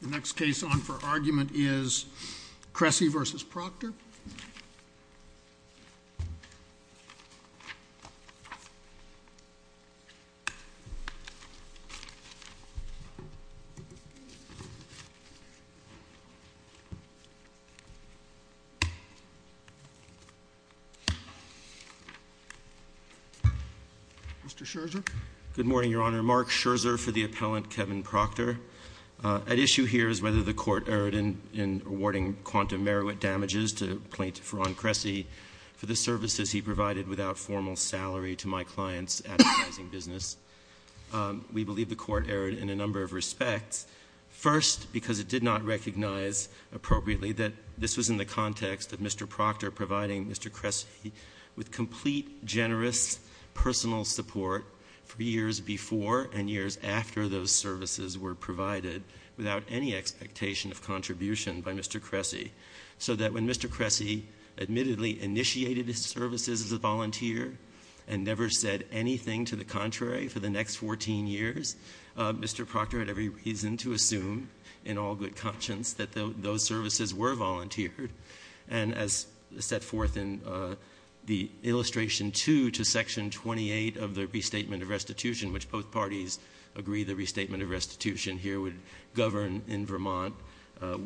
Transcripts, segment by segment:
The next case on for argument is Cressy v. Proctor. Mr. Scherzer. Good morning, Your Honor. Mark Scherzer for the appellant, Kevin Proctor. At issue here is whether the Court erred in awarding quantum merit damages to plaintiff Ron Cressy for the services he provided without formal salary to my client's advertising business. We believe the Court erred in a number of respects. First, because it did not recognize appropriately that this was in the context of Mr. Proctor providing Mr. Cressy with complete, generous personal support for years before and years after those services were provided without any expectation of contribution by Mr. Cressy. So that when Mr. Cressy admittedly initiated his services as a volunteer and never said anything to the contrary for the next 14 years, Mr. Proctor had every reason to assume in all good conscience that those services were volunteered. And as set forth in the illustration 2 to section 28 of the Restatement of Restitution, which both parties agree the Restatement of Restitution here would govern in Vermont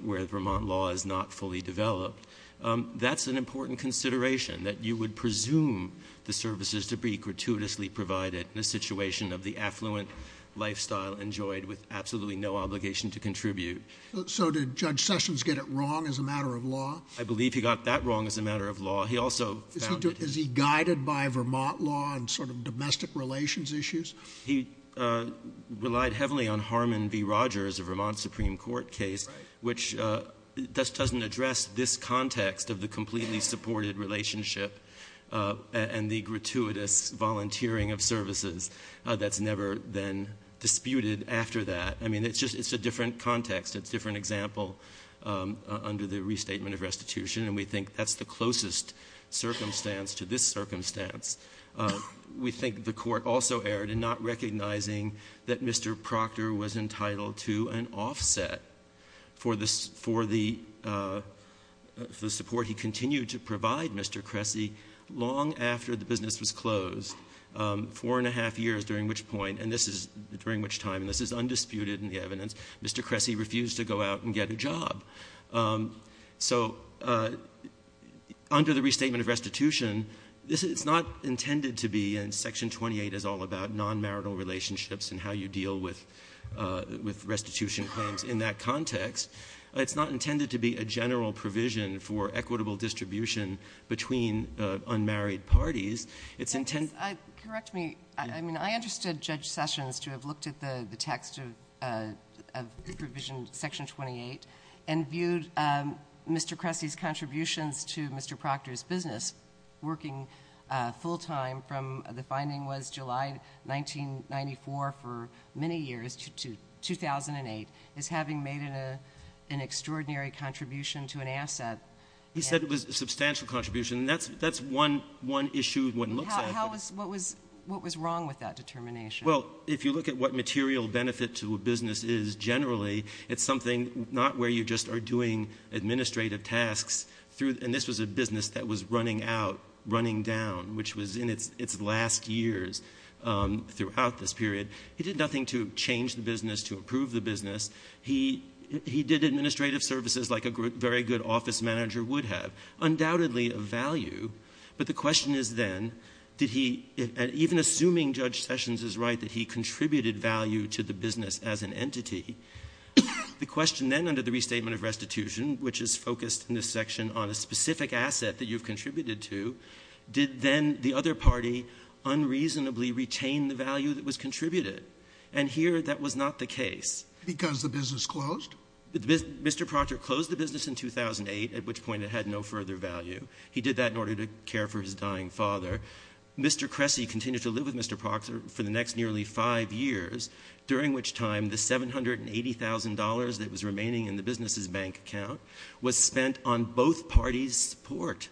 where Vermont law is not fully developed, that's an important consideration, that you would presume the services to be gratuitously provided in a situation of the affluent lifestyle enjoyed with absolutely no obligation to contribute. So did Judge Sessions get it wrong as a matter of law? I believe he got that wrong as a matter of law. He also found it— Is he guided by Vermont law and sort of domestic relations issues? He relied heavily on Harmon v. Rogers, a Vermont Supreme Court case, which doesn't address this context of the completely supported relationship and the gratuitous volunteering of services that's never been disputed after that. I mean, it's a different context. It's a different example under the Restatement of Restitution. And we think that's the closest circumstance to this circumstance. We think the Court also erred in not recognizing that Mr. Proctor was entitled to an offset for the support he continued to provide Mr. Cressy long after the business was closed, four and a half years, during which point, and this is during which time, and this is undisputed in the evidence, Mr. Cressy refused to go out and get a job. So under the Restatement of Restitution, this is not intended to be, and Section 28 is all about nonmarital relationships and how you deal with restitution claims in that context. It's not intended to be a general provision for equitable distribution between unmarried parties. It's intended— And viewed Mr. Cressy's contributions to Mr. Proctor's business, working full-time, from the finding was July 1994 for many years to 2008, as having made an extraordinary contribution to an asset. He said it was a substantial contribution, and that's one issue of what it looks like. What was wrong with that determination? Well, if you look at what material benefit to a business is generally, it's something not where you just are doing administrative tasks through, and this was a business that was running out, running down, which was in its last years throughout this period. He did nothing to change the business, to improve the business. He did administrative services like a very good office manager would have, undoubtedly of value. But the question is then, did he, even assuming Judge Sessions is right, that he contributed value to the business as an entity, the question then under the Restatement of Restitution, which is focused in this section on a specific asset that you've contributed to, did then the other party unreasonably retain the value that was contributed? And here that was not the case. Because the business closed? Mr. Proctor closed the business in 2008, at which point it had no further value. He did that in order to care for his dying father. Mr. Cressy continued to live with Mr. Proctor for the next nearly five years, during which time the $780,000 that was remaining in the business's bank account was spent on both parties' support.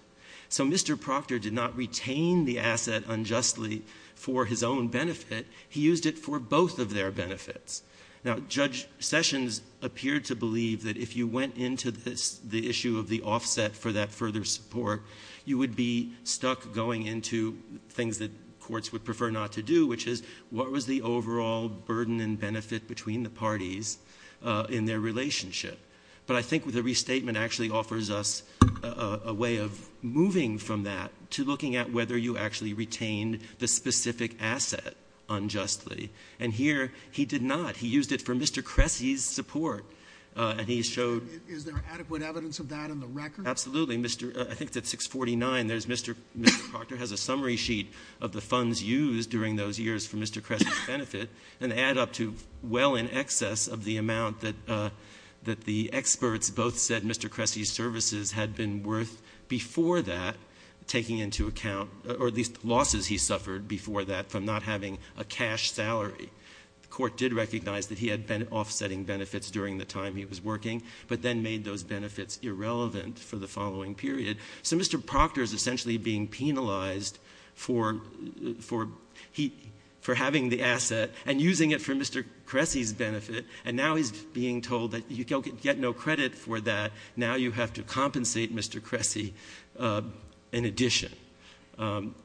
So Mr. Proctor did not retain the asset unjustly for his own benefit. He used it for both of their benefits. Now, Judge Sessions appeared to believe that if you went into the issue of the offset for that further support, you would be stuck going into things that courts would prefer not to do, which is, what was the overall burden and benefit between the parties in their relationship? But I think the Restatement actually offers us a way of moving from that to looking at whether you actually retained the specific asset unjustly. And here, he did not. He used it for Mr. Cressy's support. And he showed— Is there adequate evidence of that in the record? Absolutely. I think that 649, Mr. Proctor has a summary sheet of the funds used during those years for Mr. Cressy's benefit, and add up to well in excess of the amount that the experts both said Mr. Cressy's services had been worth before that, taking into account—or at least losses he suffered before that from not having a cash salary. The court did recognize that he had been offsetting benefits during the time he was working, but then made those benefits irrelevant for the following period. So Mr. Proctor is essentially being penalized for having the asset and using it for Mr. Cressy's benefit, and now he's being told that you get no credit for that, now you have to compensate Mr. Cressy in addition.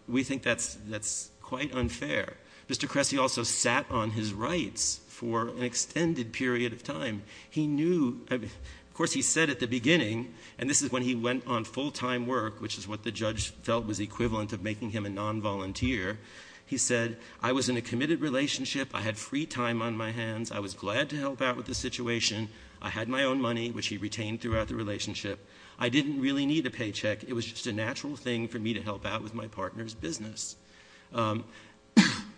We think that's quite unfair. Mr. Cressy also sat on his rights for an extended period of time. He knew—of course, he said at the beginning, and this is when he went on full-time work, which is what the judge felt was equivalent of making him a nonvolunteer. He said, I was in a committed relationship, I had free time on my hands, I was glad to help out with the situation, I had my own money, which he retained throughout the relationship, I didn't really need a paycheck, it was just a natural thing for me to help out with my partner's business.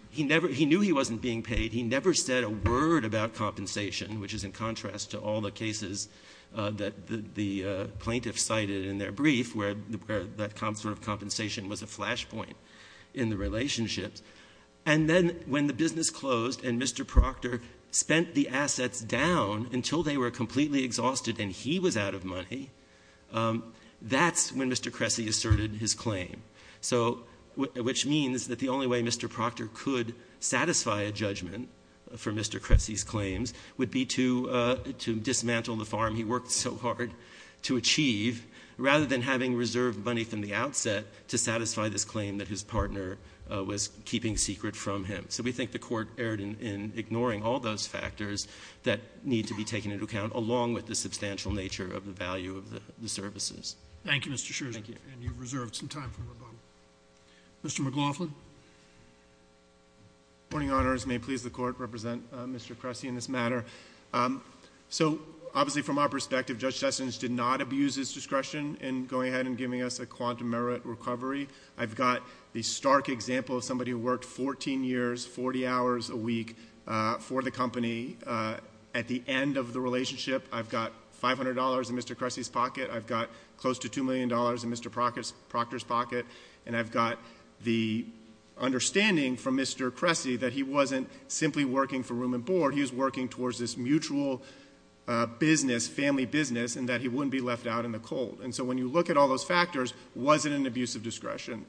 He knew he wasn't being paid, he never said a word about compensation, which is in contrast to all the cases that the plaintiffs cited in their brief, where that sort of compensation was a flashpoint in the relationships. And then when the business closed and Mr. Proctor spent the assets down until they were completely exhausted and he was out of money, that's when Mr. Cressy asserted his claim. So, which means that the only way Mr. Proctor could satisfy a judgment for Mr. Cressy's claims would be to dismantle the farm he worked so hard to achieve, rather than having reserved money from the outset to satisfy this claim that his partner was keeping secret from him. So we think the Court erred in ignoring all those factors that need to be taken into account, along with the substantial nature of the value of the services. Thank you, Mr. Scherzer. Thank you. And you've reserved some time for rebuttal. Mr. McLaughlin. Good morning, Your Honors. May it please the Court to represent Mr. Cressy in this matter. So, obviously from our perspective, Judge Sessions did not abuse his discretion in going ahead and giving us a quantum merit recovery. I've got the stark example of somebody who worked 14 years, 40 hours a week for the company. At the end of the relationship, I've got $500 in Mr. Cressy's pocket. I've got close to $2 million in Mr. Proctor's pocket. And I've got the understanding from Mr. Cressy that he wasn't simply working for room and board. He was working towards this mutual business, family business, and that he wouldn't be left out in the cold. And so when you look at all those factors, was it an abuse of discretion?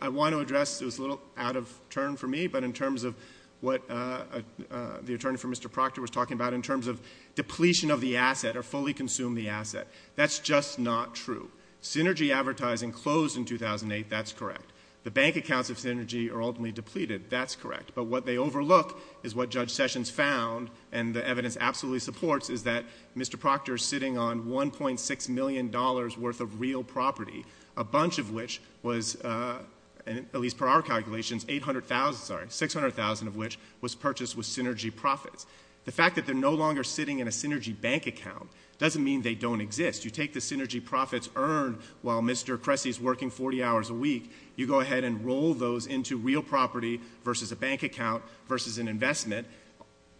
I want to address, it was a little out of turn for me, but in terms of what the attorney for Mr. Proctor was talking about in terms of depletion of the asset or fully consume the asset. That's just not true. Synergy advertising closed in 2008. That's correct. The bank accounts of Synergy are ultimately depleted. That's correct. But what they overlook is what Judge Sessions found, and the evidence absolutely supports, is that Mr. Proctor is sitting on $1.6 million worth of real property, a bunch of which was, at least per our calculations, $800,000, sorry, $600,000 of which was purchased with Synergy profits. The fact that they're no longer sitting in a Synergy bank account doesn't mean they don't exist. You take the Synergy profits earned while Mr. Cressy is working 40 hours a week, you go ahead and roll those into real property versus a bank account versus an investment.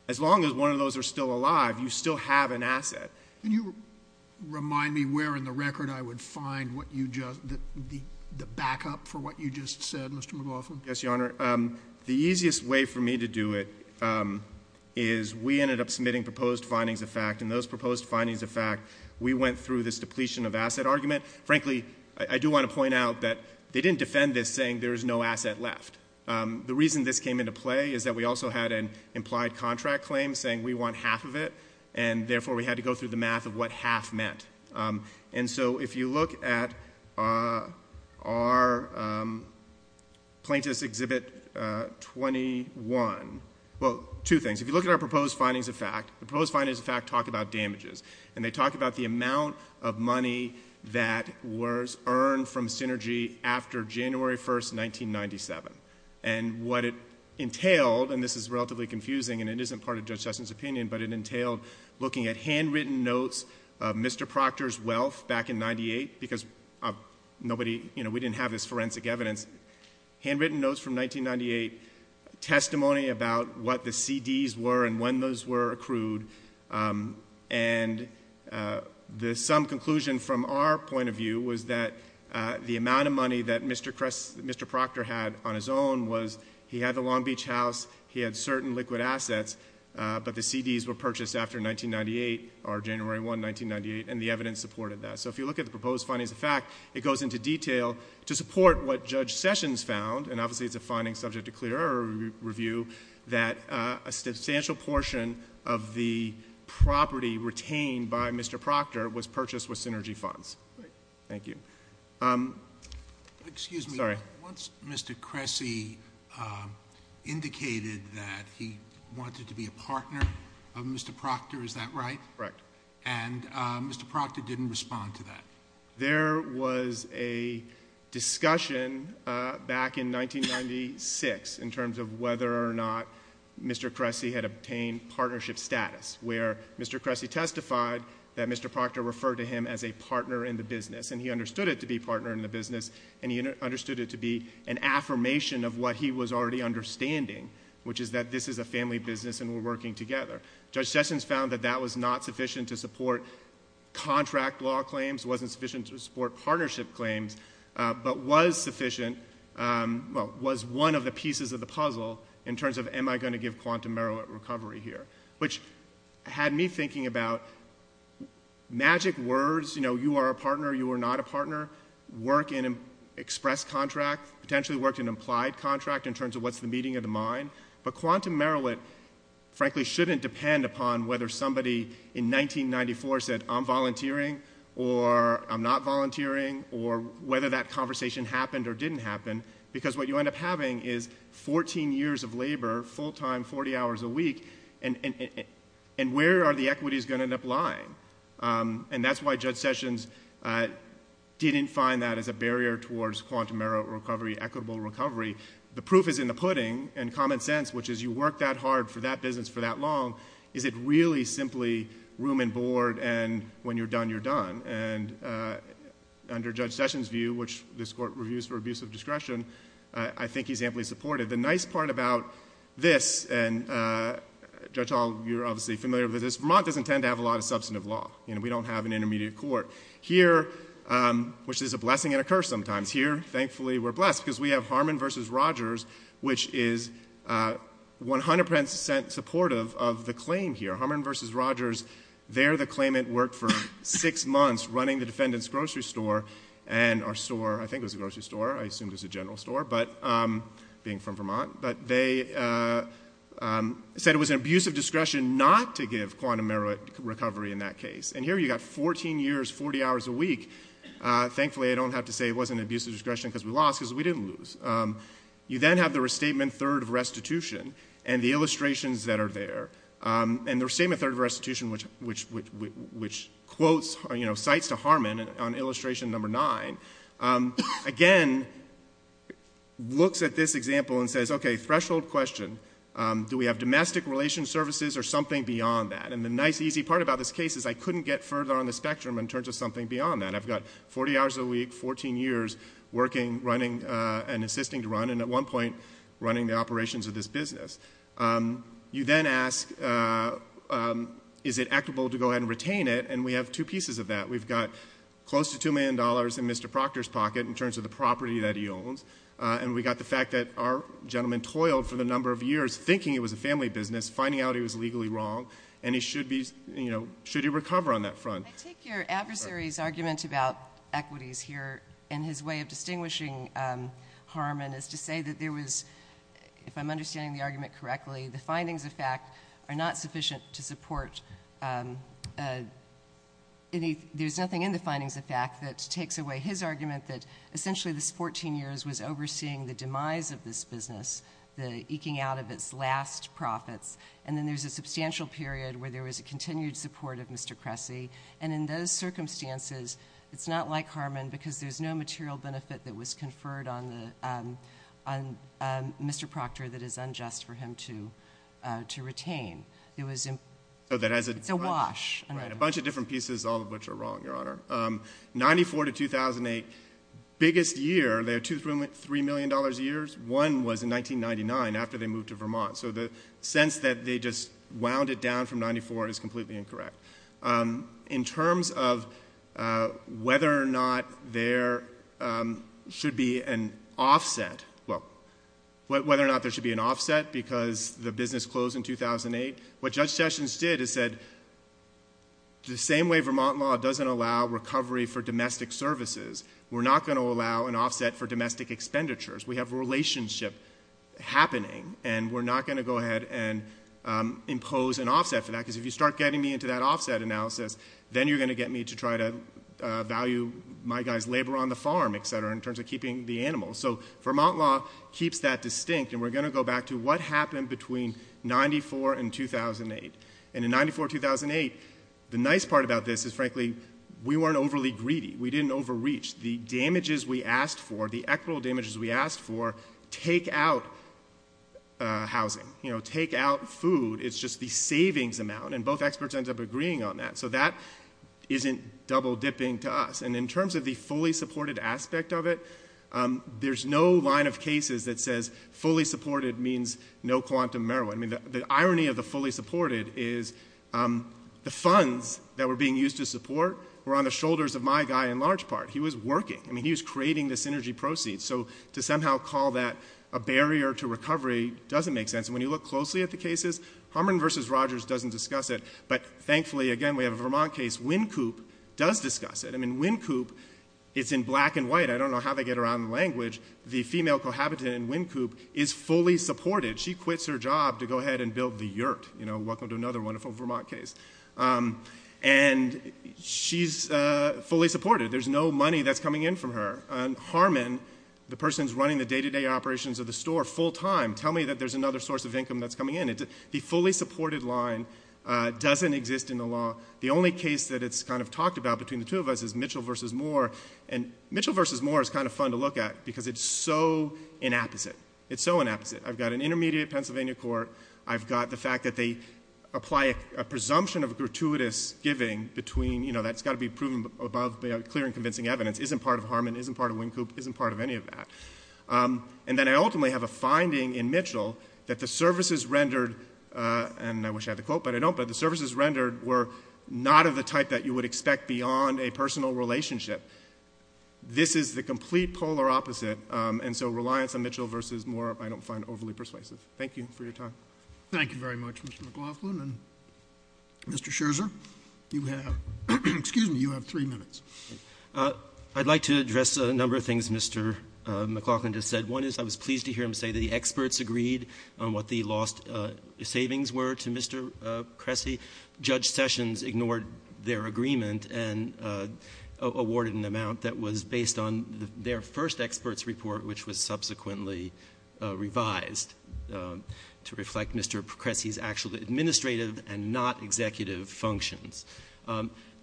As long as one of those are still alive, you still have an asset. Can you remind me where in the record I would find the backup for what you just said, Mr. McLaughlin? Yes, Your Honor. The easiest way for me to do it is we ended up submitting proposed findings of fact, and those proposed findings of fact, we went through this depletion of asset argument. Frankly, I do want to point out that they didn't defend this saying there is no asset left. The reason this came into play is that we also had an implied contract claim saying we want half of it, and therefore we had to go through the math of what half meant. If you look at our Plaintiffs' Exhibit 21, well, two things. If you look at our proposed findings of fact, the proposed findings of fact talk about damages, and they talk about the amount of money that was earned from Synergy after January 1, 1997. What it entailed, and this is relatively confusing and it isn't part of Judge Sessions' opinion, but it entailed looking at handwritten notes of Mr. Proctor's wealth back in 1998, because we didn't have this forensic evidence, handwritten notes from 1998, testimony about what the CDs were and when those were accrued, and some conclusion from our point of view was that the amount of money that Mr. Proctor had on his own was he had the Long Beach house, he had certain liquid assets, but the CDs were purchased after 1998, or January 1, 1998, and the evidence supported that. So if you look at the proposed findings of fact, it goes into detail to support what Judge Sessions found, and obviously it's a finding subject to clearer review, that a substantial portion of the property retained by Mr. Proctor was purchased with Synergy funds. Thank you. Excuse me. Sorry. Once Mr. Cressy indicated that he wanted to be a partner of Mr. Proctor, is that right? Correct. And Mr. Proctor didn't respond to that? There was a discussion back in 1996 in terms of whether or not Mr. Cressy had obtained partnership status, where Mr. Cressy testified that Mr. Proctor referred to him as a partner in the business, and he understood it to be partner in the business, and he understood it to be an affirmation of what he was already understanding, which is that this is a family business and we're working together. Judge Sessions found that that was not sufficient to support contract law claims, wasn't sufficient to support partnership claims, but was sufficient, well, was one of the pieces of the puzzle in terms of am I going to give quantum merit recovery here, which had me thinking about magic words, you know, you are a partner, you are not a partner, work in express contract, potentially work in implied contract in terms of what's the meeting of the mind, but quantum merit, frankly, shouldn't depend upon whether somebody in 1994 said I'm volunteering or I'm not volunteering or whether that conversation happened or didn't happen, because what you end up having is 14 years of labor, full time, 40 hours a week, and where are the equities going to end up lying, and that's why Judge Sessions didn't find that as a barrier towards quantum merit recovery, equitable recovery. The proof is in the pudding and common sense, which is you work that hard for that business for that long, is it really simply room and board and when you're done, you're done, and under Judge Sessions' view, which this court reviews for abuse of discretion, I think he's amply supportive. The nice part about this, and Judge Hall, you're obviously familiar with this, Vermont doesn't tend to have a lot of substantive law, you know, we don't have an intermediate court. Here, which is a blessing and a curse sometimes, here, thankfully, we're blessed, because we have Harmon v. Rogers, which is 100% supportive of the claim here. Harmon v. Rogers, there the claimant worked for six months running the defendant's grocery store, and our store, I think it was a grocery store, I assume it was a general store, being from Vermont, but they said it was an abuse of discretion not to give quantum merit recovery in that case, and here you've got 14 years, 40 hours a week, thankfully I don't have to say it wasn't an abuse of discretion because we lost, because we didn't lose. You then have the restatement third restitution, and the illustrations that are there, and the restatement third restitution, which quotes, you know, cites to Harmon on illustration number nine, again, looks at this example and says, okay, threshold question, do we have domestic relations services or something beyond that, and the nice easy part about this case is I couldn't get further on the spectrum in terms of something beyond that. I've got 40 hours a week, 14 years working, running, and assisting to run, and at one point running the operations of this business. You then ask is it equitable to go ahead and retain it, and we have two pieces of that. We've got close to $2 million in Mr. Proctor's pocket in terms of the property that he owns, and we've got the fact that our gentleman toiled for the number of years thinking it was a family business, finding out it was legally wrong, and he should be, you know, should he recover on that front. I take your adversary's argument about equities here and his way of distinguishing Harmon is to say that there was, if I'm understanding the argument correctly, the findings of fact are not sufficient to support any, there's nothing in the findings of fact that takes away his argument that essentially this 14 years was overseeing the demise of this business, the eking out of its last profits, and then there's a substantial period where there was a continued support of Mr. Cressy, and in those circumstances it's not like Harmon because there's no material benefit that was conferred on Mr. Proctor that is unjust for him to retain. It's a wash. A bunch of different pieces, all of which are wrong, Your Honor. 94 to 2008, biggest year, they're $3 million a year. One was in 1999 after they moved to Vermont, so the sense that they just wound it down from 94 is completely incorrect. In terms of whether or not there should be an offset, well, whether or not there should be an offset because the business closed in 2008, what Judge Sessions did is said the same way Vermont law doesn't allow recovery for domestic services, we're not going to allow an offset for domestic expenditures. We have a relationship happening, and we're not going to go ahead and impose an offset for that because if you start getting me into that offset analysis, then you're going to get me to try to value my guy's labor on the farm, et cetera, in terms of keeping the animals. So Vermont law keeps that distinct, and we're going to go back to what happened between 94 and 2008. And in 94-2008, the nice part about this is, frankly, we weren't overly greedy. We didn't overreach. The damages we asked for, the equitable damages we asked for, take out housing, take out food. It's just the savings amount, and both experts end up agreeing on that. So that isn't double-dipping to us. And in terms of the fully supported aspect of it, there's no line of cases that says fully supported means no quantum marijuana. I mean, the irony of the fully supported is the funds that were being used to support were on the shoulders of my guy in large part. He was working. I mean, he was creating the synergy proceeds. So to somehow call that a barrier to recovery doesn't make sense. And when you look closely at the cases, Harmon v. Rogers doesn't discuss it, but thankfully, again, we have a Vermont case. Wynkoop does discuss it. I mean, Wynkoop, it's in black and white. I don't know how they get around the language. The female cohabitant in Wynkoop is fully supported. She quits her job to go ahead and build the yurt. You know, welcome to another wonderful Vermont case. And she's fully supported. There's no money that's coming in from her. Harmon, the person who's running the day-to-day operations of the store full time, tell me that there's another source of income that's coming in. The fully supported line doesn't exist in the law. The only case that it's kind of talked about between the two of us is Mitchell v. Moore. And Mitchell v. Moore is kind of fun to look at because it's so inapposite. It's so inapposite. I've got an intermediate Pennsylvania court. I've got the fact that they apply a presumption of gratuitous giving between, you know, that's got to be proven above clear and convincing evidence, isn't part of Harmon, isn't part of Wynkoop, isn't part of any of that. And then I ultimately have a finding in Mitchell that the services rendered, and I wish I had the quote, but I don't, but the services rendered were not of the type that you would expect beyond a personal relationship. This is the complete polar opposite. And so reliance on Mitchell v. Moore I don't find overly persuasive. Thank you for your time. Thank you very much, Mr. McLaughlin. And Mr. Scherzer, you have three minutes. I'd like to address a number of things Mr. McLaughlin just said. One is I was pleased to hear him say that the experts agreed on what the lost savings were to Mr. Cressy. Judge Sessions ignored their agreement and awarded an amount that was based on their first expert's report, which was subsequently revised to reflect Mr. Cressy's actual administrative and not executive functions.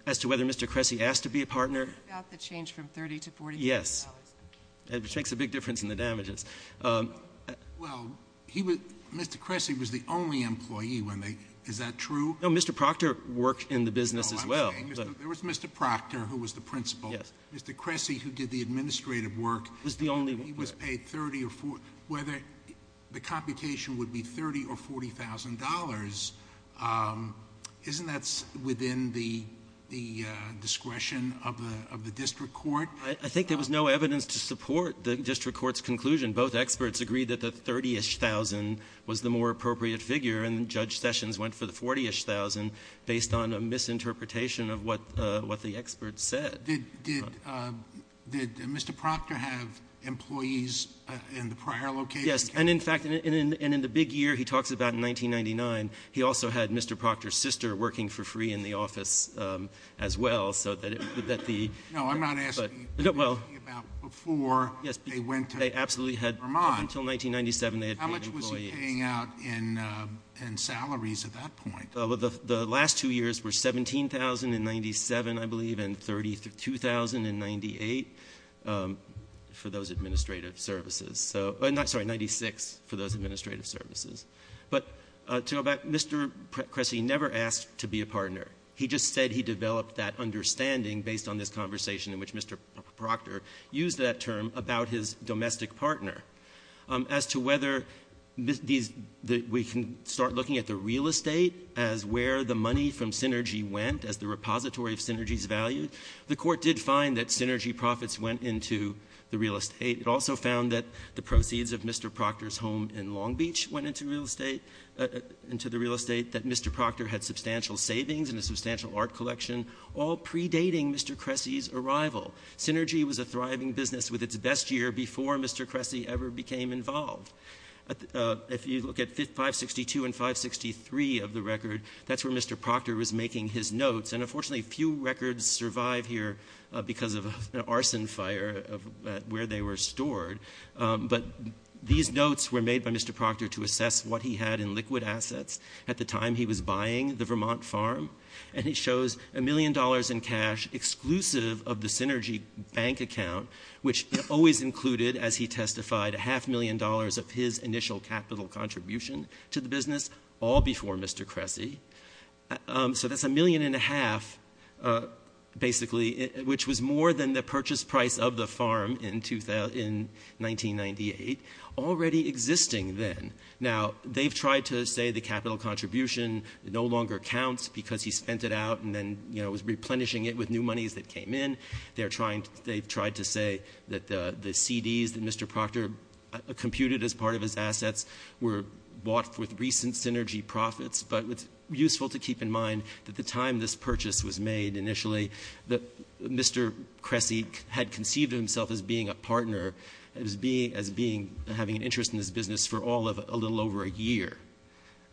As to whether Mr. Cressy asked to be a partner- About the change from 30 to $40 million. Yes. Which makes a big difference in the damages. Well, Mr. Cressy was the only employee when they, is that true? No, Mr. Proctor worked in the business as well. There was Mr. Proctor who was the principal. Yes. Mr. Cressy who did the administrative work. He was the only one. He was paid 30 or 40, whether the computation would be 30 or $40,000, isn't that within the discretion of the district court? I think there was no evidence to support the district court's conclusion. Both experts agreed that the 30-ish thousand was the more appropriate figure, and Judge Sessions went for the 40-ish thousand based on a misinterpretation of what the experts said. Did Mr. Proctor have employees in the prior location? Yes, and in fact, and in the big year he talks about in 1999, he also had Mr. Proctor's sister working for free in the office as well, so that the- No, I'm not asking about before they went to Vermont. Yes, they absolutely had. Up until 1997, they had paid employees. How much was he paying out in salaries at that point? The last two years were $17,000 in 1997, I believe, and $32,000 in 1998 for those administrative services. I'm sorry, $96,000 for those administrative services. But to go back, Mr. Cressy never asked to be a partner. He just said he developed that understanding based on this conversation in which Mr. Proctor used that term about his domestic partner. As to whether we can start looking at the real estate as where the money from Synergy went, as the repository of Synergy's value, the Court did find that Synergy profits went into the real estate. It also found that the proceeds of Mr. Proctor's home in Long Beach went into real estate, that Mr. Proctor had substantial savings and a substantial art collection, all predating Mr. Cressy's arrival. Synergy was a thriving business with its best year before Mr. Cressy ever became involved. If you look at 562 and 563 of the record, that's where Mr. Proctor was making his notes. And unfortunately, few records survive here because of an arson fire where they were stored. But these notes were made by Mr. Proctor to assess what he had in liquid assets at the time he was buying the Vermont farm. And it shows a million dollars in cash exclusive of the Synergy bank account, which always included, as he testified, a half million dollars of his initial capital contribution to the business, all before Mr. Cressy. So that's a million and a half, basically, which was more than the purchase price of the farm in 1998, already existing then. Now, they've tried to say the capital contribution no longer counts because he spent it out and then was replenishing it with new monies that came in. They've tried to say that the CDs that Mr. Proctor computed as part of his assets were bought with recent Synergy profits. But it's useful to keep in mind that the time this purchase was made initially, that Mr. Cressy had conceived himself as being a partner, as having an interest in this business for a little over a year.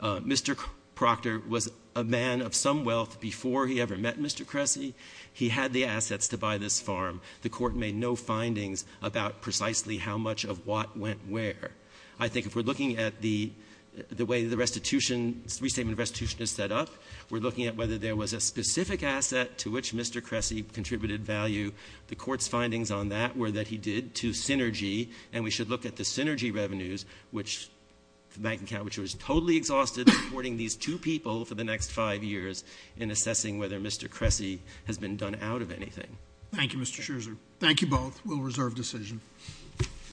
Mr. Proctor was a man of some wealth before he ever met Mr. Cressy. He had the assets to buy this farm. The Court made no findings about precisely how much of what went where. I think if we're looking at the way the restitution, restatement of restitution is set up, we're looking at whether there was a specific asset to which Mr. Cressy contributed value. The Court's findings on that were that he did to Synergy. And we should look at the Synergy revenues, which the bank account which was totally exhausted supporting these two people for the next five years in assessing whether Mr. Cressy has been done out of anything. Thank you, Mr. Scherzer. Thank you both. We'll reserve decision.